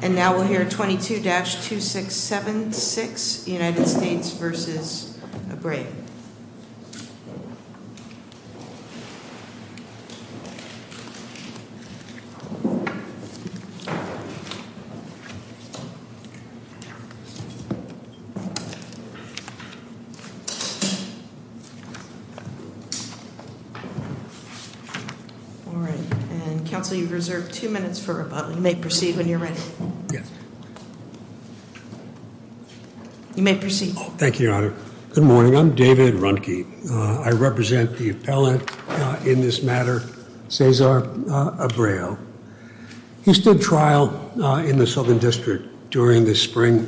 And now we'll hear 22-2676, United States v. Abreu. All right. And, Council, you've reserved two minutes for rebuttal. You may proceed when you're ready. Yes. You may proceed. Thank you, Your Honor. Good morning. I'm David Runke. I represent the appellant in this matter, Cesar Abreu. He stood trial in the Southern District during the spring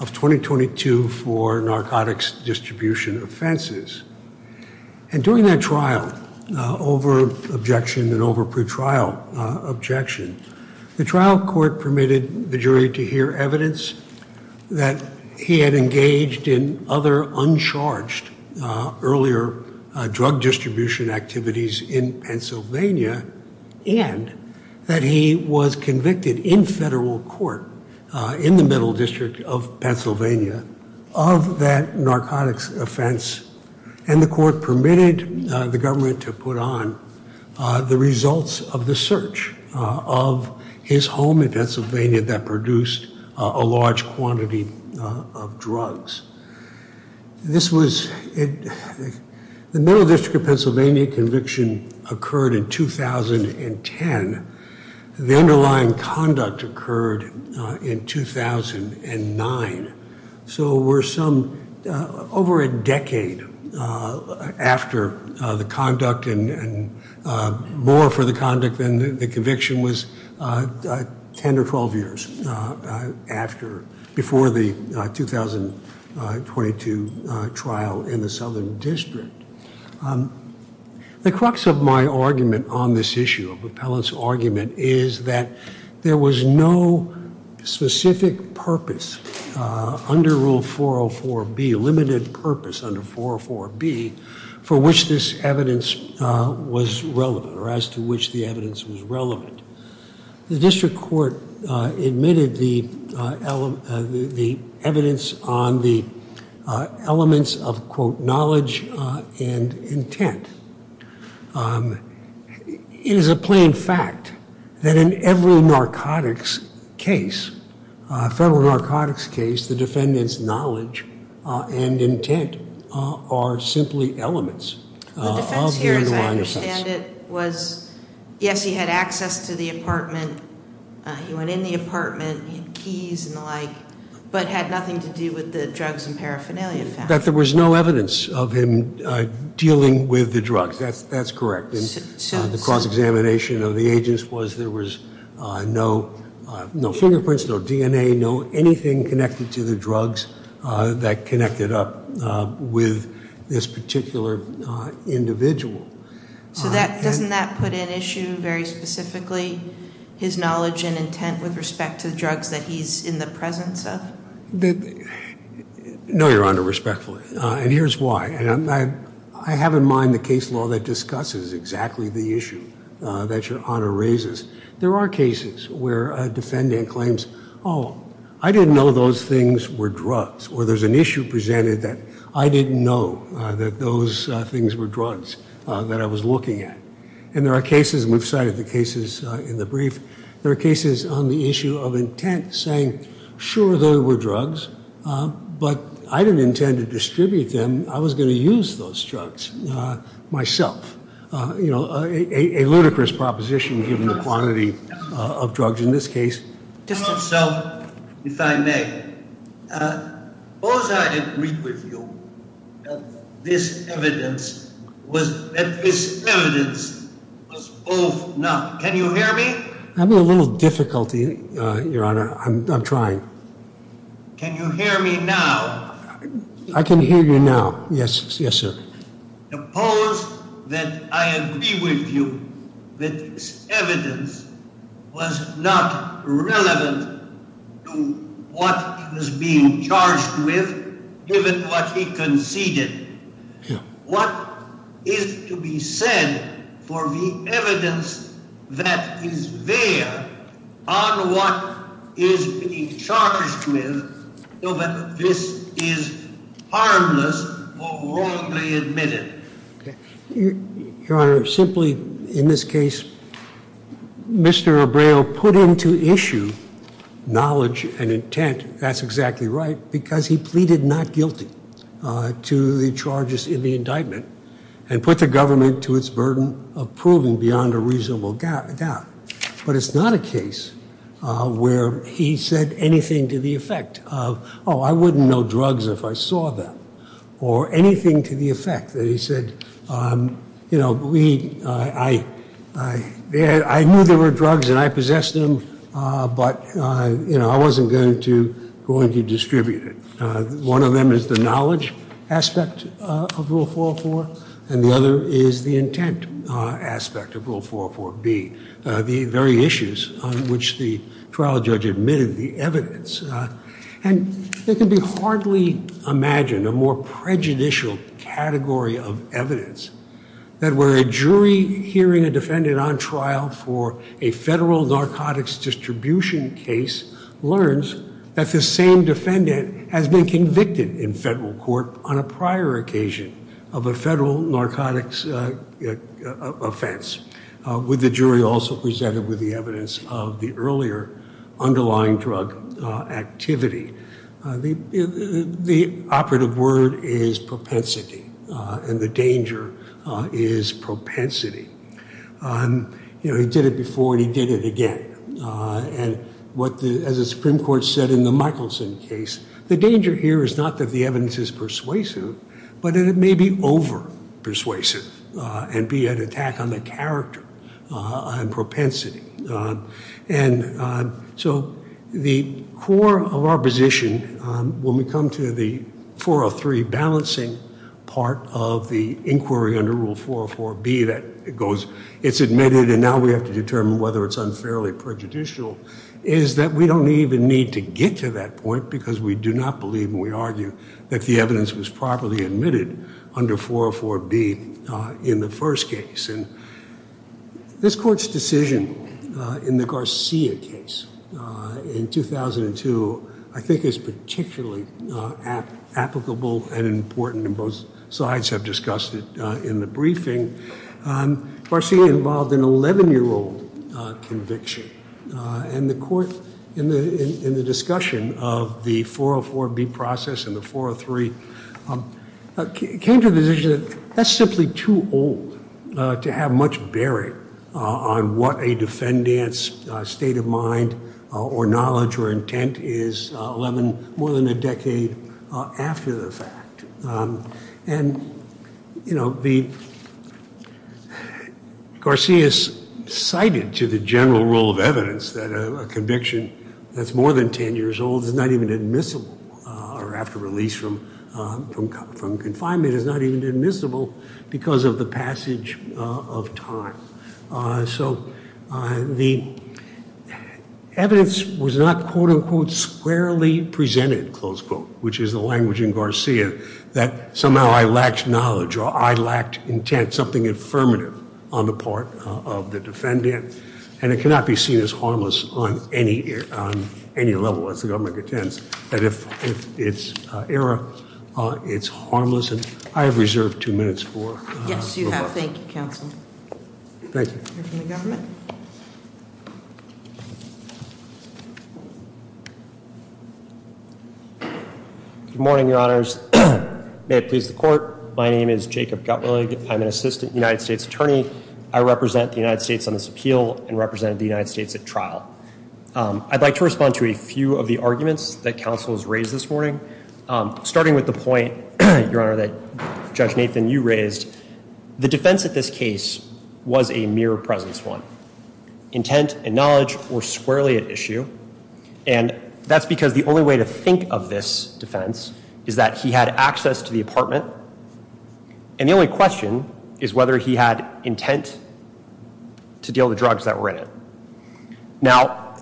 of 2022 for narcotics distribution offenses. And during that trial, over objection and over pretrial objection, the trial court permitted the jury to hear evidence that he had engaged in other uncharged earlier drug distribution activities in Pennsylvania and that he was convicted in federal court in the Middle District of Pennsylvania of that narcotics offense. And the court permitted the government to put on the results of the search of his home in Pennsylvania that produced a large quantity of drugs. This was the Middle District of Pennsylvania conviction occurred in 2010. The underlying conduct occurred in 2009. So we're some over a decade after the conduct and more for the conduct than the conviction was 10 or 12 years before the 2022 trial in the Southern District. The crux of my argument on this issue of appellant's argument is that there was no specific purpose under Rule 404B, limited purpose under 404B, for which this evidence was relevant or as to which the evidence was relevant. The district court admitted the evidence on the elements of, quote, knowledge and intent. It is a plain fact that in every narcotics case, federal narcotics case, the defendant's knowledge and intent are simply elements of the underlying offense. Yes, he had access to the apartment. He went in the apartment, keys and the like, but had nothing to do with the drugs and paraphernalia. But there was no evidence of him dealing with the drugs. That's correct. The cross-examination of the agents was there was no fingerprints, no DNA, no anything connected to the drugs that connected up with this particular individual. So that doesn't that put in issue very specifically his knowledge and intent with respect to the drugs that he's in the presence of? No, Your Honor, respectfully. And here's why. And I have in mind the case law that discusses exactly the issue that Your Honor raises. There are cases where a defendant claims, oh, I didn't know those things were drugs, or there's an issue presented that I didn't know that those things were drugs that I was looking at. And there are cases, and we've cited the cases in the brief, there are cases on the issue of intent saying, sure, they were drugs, but I didn't intend to distribute them. I was going to use those drugs myself. You know, a ludicrous proposition given the quantity of drugs in this case. Just itself, if I may, suppose I didn't read with you that this evidence was both not. Can you hear me? I'm having a little difficulty, Your Honor. I'm trying. Can you hear me now? I can hear you now. Yes, sir. Suppose that I agree with you that this evidence was not relevant to what he was being charged with, given what he conceded. What is to be said for the evidence that is there on what is being charged with so that this is harmless or wrongly admitted? Your Honor, simply in this case, Mr. Abreu put into issue knowledge and intent, that's exactly right, because he pleaded not guilty to the charges in the indictment and put the government to its burden of proving beyond a reasonable doubt. But it's not a case where he said anything to the effect of, oh, I wouldn't know drugs if I saw them, or anything to the effect that he said, you know, I knew there were drugs and I possessed them, but, you know, I wasn't going to distribute it. One of them is the knowledge aspect of Rule 404, and the other is the intent aspect of Rule 404B, the very issues on which the trial judge admitted the evidence. And it can be hardly imagined, a more prejudicial category of evidence, that where a jury hearing a defendant on trial for a federal narcotics distribution case learns that the same defendant has been convicted in federal court on a prior occasion of a federal narcotics offense, with the jury also presented with the evidence of the earlier underlying drug activity. The operative word is propensity, and the danger is propensity. You know, he did it before and he did it again. And as the Supreme Court said in the Michelson case, the danger here is not that the evidence is persuasive, but that it may be over persuasive and be an attack on the character and propensity. And so the core of our position, when we come to the 403 balancing part of the inquiry under Rule 404B, that it's admitted and now we have to determine whether it's unfairly prejudicial, is that we don't even need to get to that point because we do not believe and we argue that the evidence was properly admitted under 404B in the first case. And this court's decision in the Garcia case in 2002 I think is particularly applicable and important, and both sides have discussed it in the briefing. Garcia involved an 11-year-old conviction, and the court, in the discussion of the 404B process and the 403, came to the decision that that's simply too old to have much bearing on what a defendant's state of mind or knowledge or intent is more than a decade after the fact. And, you know, Garcia's cited to the general rule of evidence that a conviction that's more than 10 years old is not even admissible or after release from confinement is not even admissible because of the passage of time. So the evidence was not, quote, unquote, squarely presented, close quote, which is the language in Garcia, that somehow I lacked knowledge or I lacked intent, something affirmative on the part of the defendant, and it cannot be seen as harmless on any level as the government contends. And if it's error, it's harmless. And I have reserved two minutes for rebuttal. Yes, you have. Thank you, counsel. Thank you. We'll hear from the government. Good morning, Your Honors. May it please the court, my name is Jacob Gutwillig. I'm an assistant United States attorney. I represent the United States on this appeal and represent the United States at trial. I'd like to respond to a few of the arguments that counsel has raised this morning, starting with the point, Your Honor, that Judge Nathan, you raised. The defense at this case was a mere presence one, intent and knowledge were squarely at issue. And that's because the only way to think of this defense is that he had access to the apartment. And the only question is whether he had intent to deal with the drugs that were in it. Now,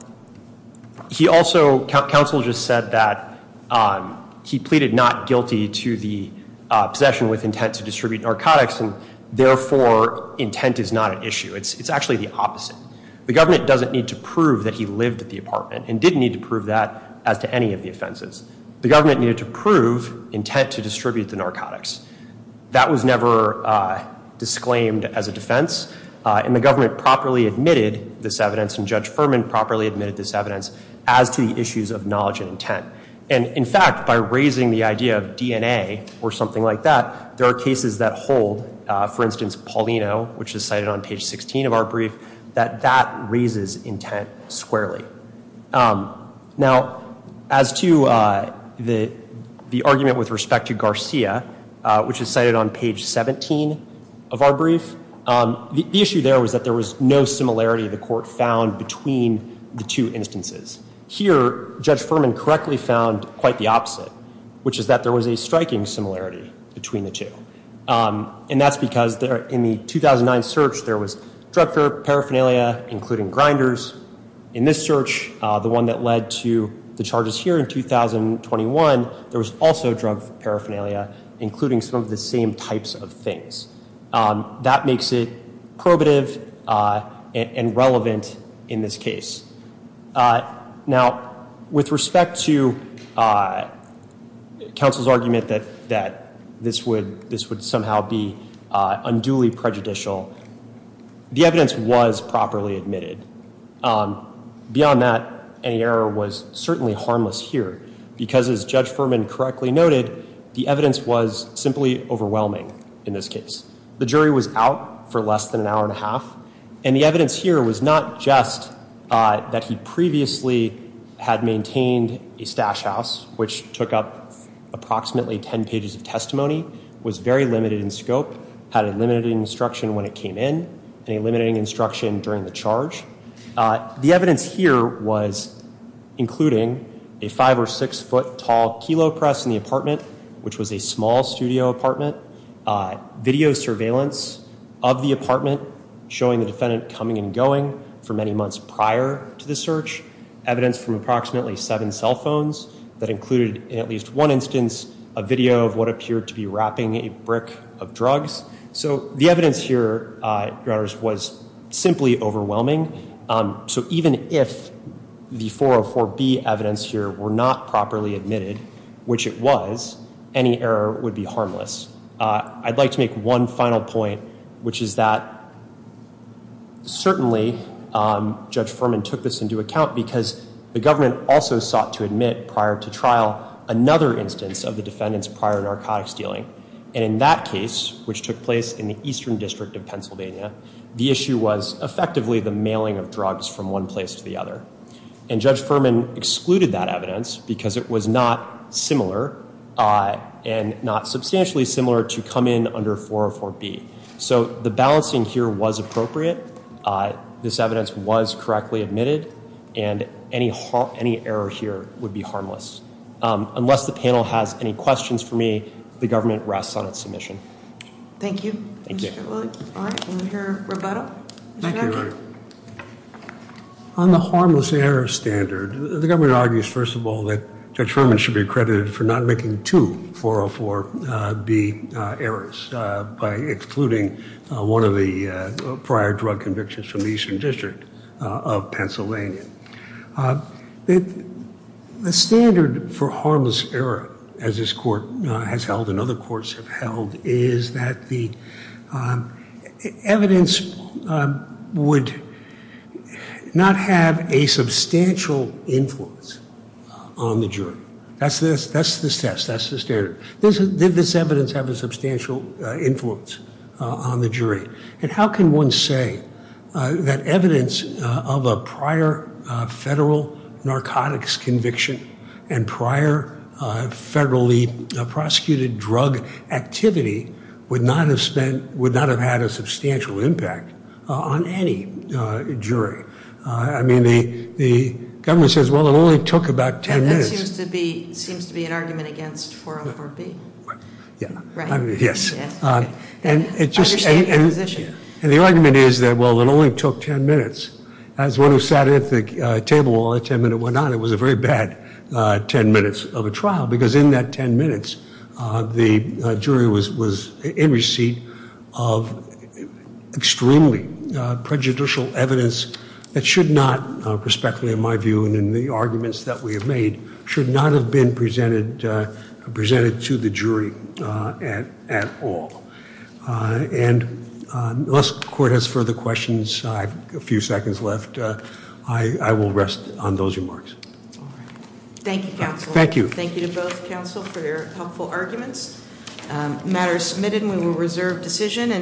he also, counsel just said that he pleaded not guilty to the possession with intent to distribute narcotics, and therefore intent is not an issue. It's actually the opposite. The government doesn't need to prove that he lived at the apartment and didn't need to prove that as to any of the offenses. The government needed to prove intent to distribute the narcotics. That was never disclaimed as a defense. And the government properly admitted this evidence, and Judge Furman properly admitted this evidence as to the issues of knowledge and intent. And, in fact, by raising the idea of DNA or something like that, there are cases that hold, for instance, Paulino, which is cited on page 16 of our brief, that that raises intent squarely. Now, as to the argument with respect to Garcia, which is cited on page 17 of our brief, the issue there was that there was no similarity the court found between the two instances. Here, Judge Furman correctly found quite the opposite, which is that there was a striking similarity between the two. And that's because in the 2009 search, there was drug paraphernalia, including grinders. In this search, the one that led to the charges here in 2021, there was also drug paraphernalia, including some of the same types of things. That makes it probative and relevant in this case. Now, with respect to counsel's argument that this would somehow be unduly prejudicial, the evidence was properly admitted. Beyond that, any error was certainly harmless here. Because, as Judge Furman correctly noted, the evidence was simply overwhelming in this case. The jury was out for less than an hour and a half. And the evidence here was not just that he previously had maintained a stash house, which took up approximately 10 pages of testimony, was very limited in scope, had a limited instruction when it came in, and a limited instruction during the charge. The evidence here was including a five or six foot tall kilo press in the apartment, which was a small studio apartment, video surveillance of the apartment, showing the defendant coming and going for many months prior to the search, evidence from approximately seven cell phones that included, in at least one instance, a video of what appeared to be wrapping a brick of drugs. So the evidence here, Your Honors, was simply overwhelming. So even if the 404B evidence here were not properly admitted, which it was, any error would be harmless. I'd like to make one final point, which is that certainly Judge Furman took this into account because the government also sought to admit prior to trial another instance of the defendant's prior narcotics dealing. And in that case, which took place in the Eastern District of Pennsylvania, the issue was effectively the mailing of drugs from one place to the other. And Judge Furman excluded that evidence because it was not similar and not substantially similar to come in under 404B. So the balancing here was appropriate. This evidence was correctly admitted. And any error here would be harmless. Unless the panel has any questions for me, the government rests on its submission. Thank you. Thank you. On the harmless error standard, the government argues, first of all, that Judge Furman should be accredited for not making two 404B errors by excluding one of the prior drug convictions from the Eastern District of Pennsylvania. The standard for harmless error, as this Court has held and other courts have held, is that the evidence would not have a substantial influence on the jury. That's the test. That's the standard. Did this evidence have a substantial influence on the jury? And how can one say that evidence of a prior federal narcotics conviction and prior federally prosecuted drug activity would not have had a substantial impact on any jury? I mean, the government says, well, it only took about ten minutes. And that seems to be an argument against 404B. Yes. I understand your position. And the argument is that, well, it only took ten minutes. As one who sat at the table while that ten minute went on, it was a very bad ten minutes of a trial because in that ten minutes the jury was in receipt of extremely prejudicial evidence that should not, prospectively in my view and in the arguments that we have made, should not have been presented to the jury at all. And unless the court has further questions, I have a few seconds left. I will rest on those remarks. Thank you, counsel. Thank you. Thank you to both counsel for your helpful arguments. The matter is submitted and we will reserve decision.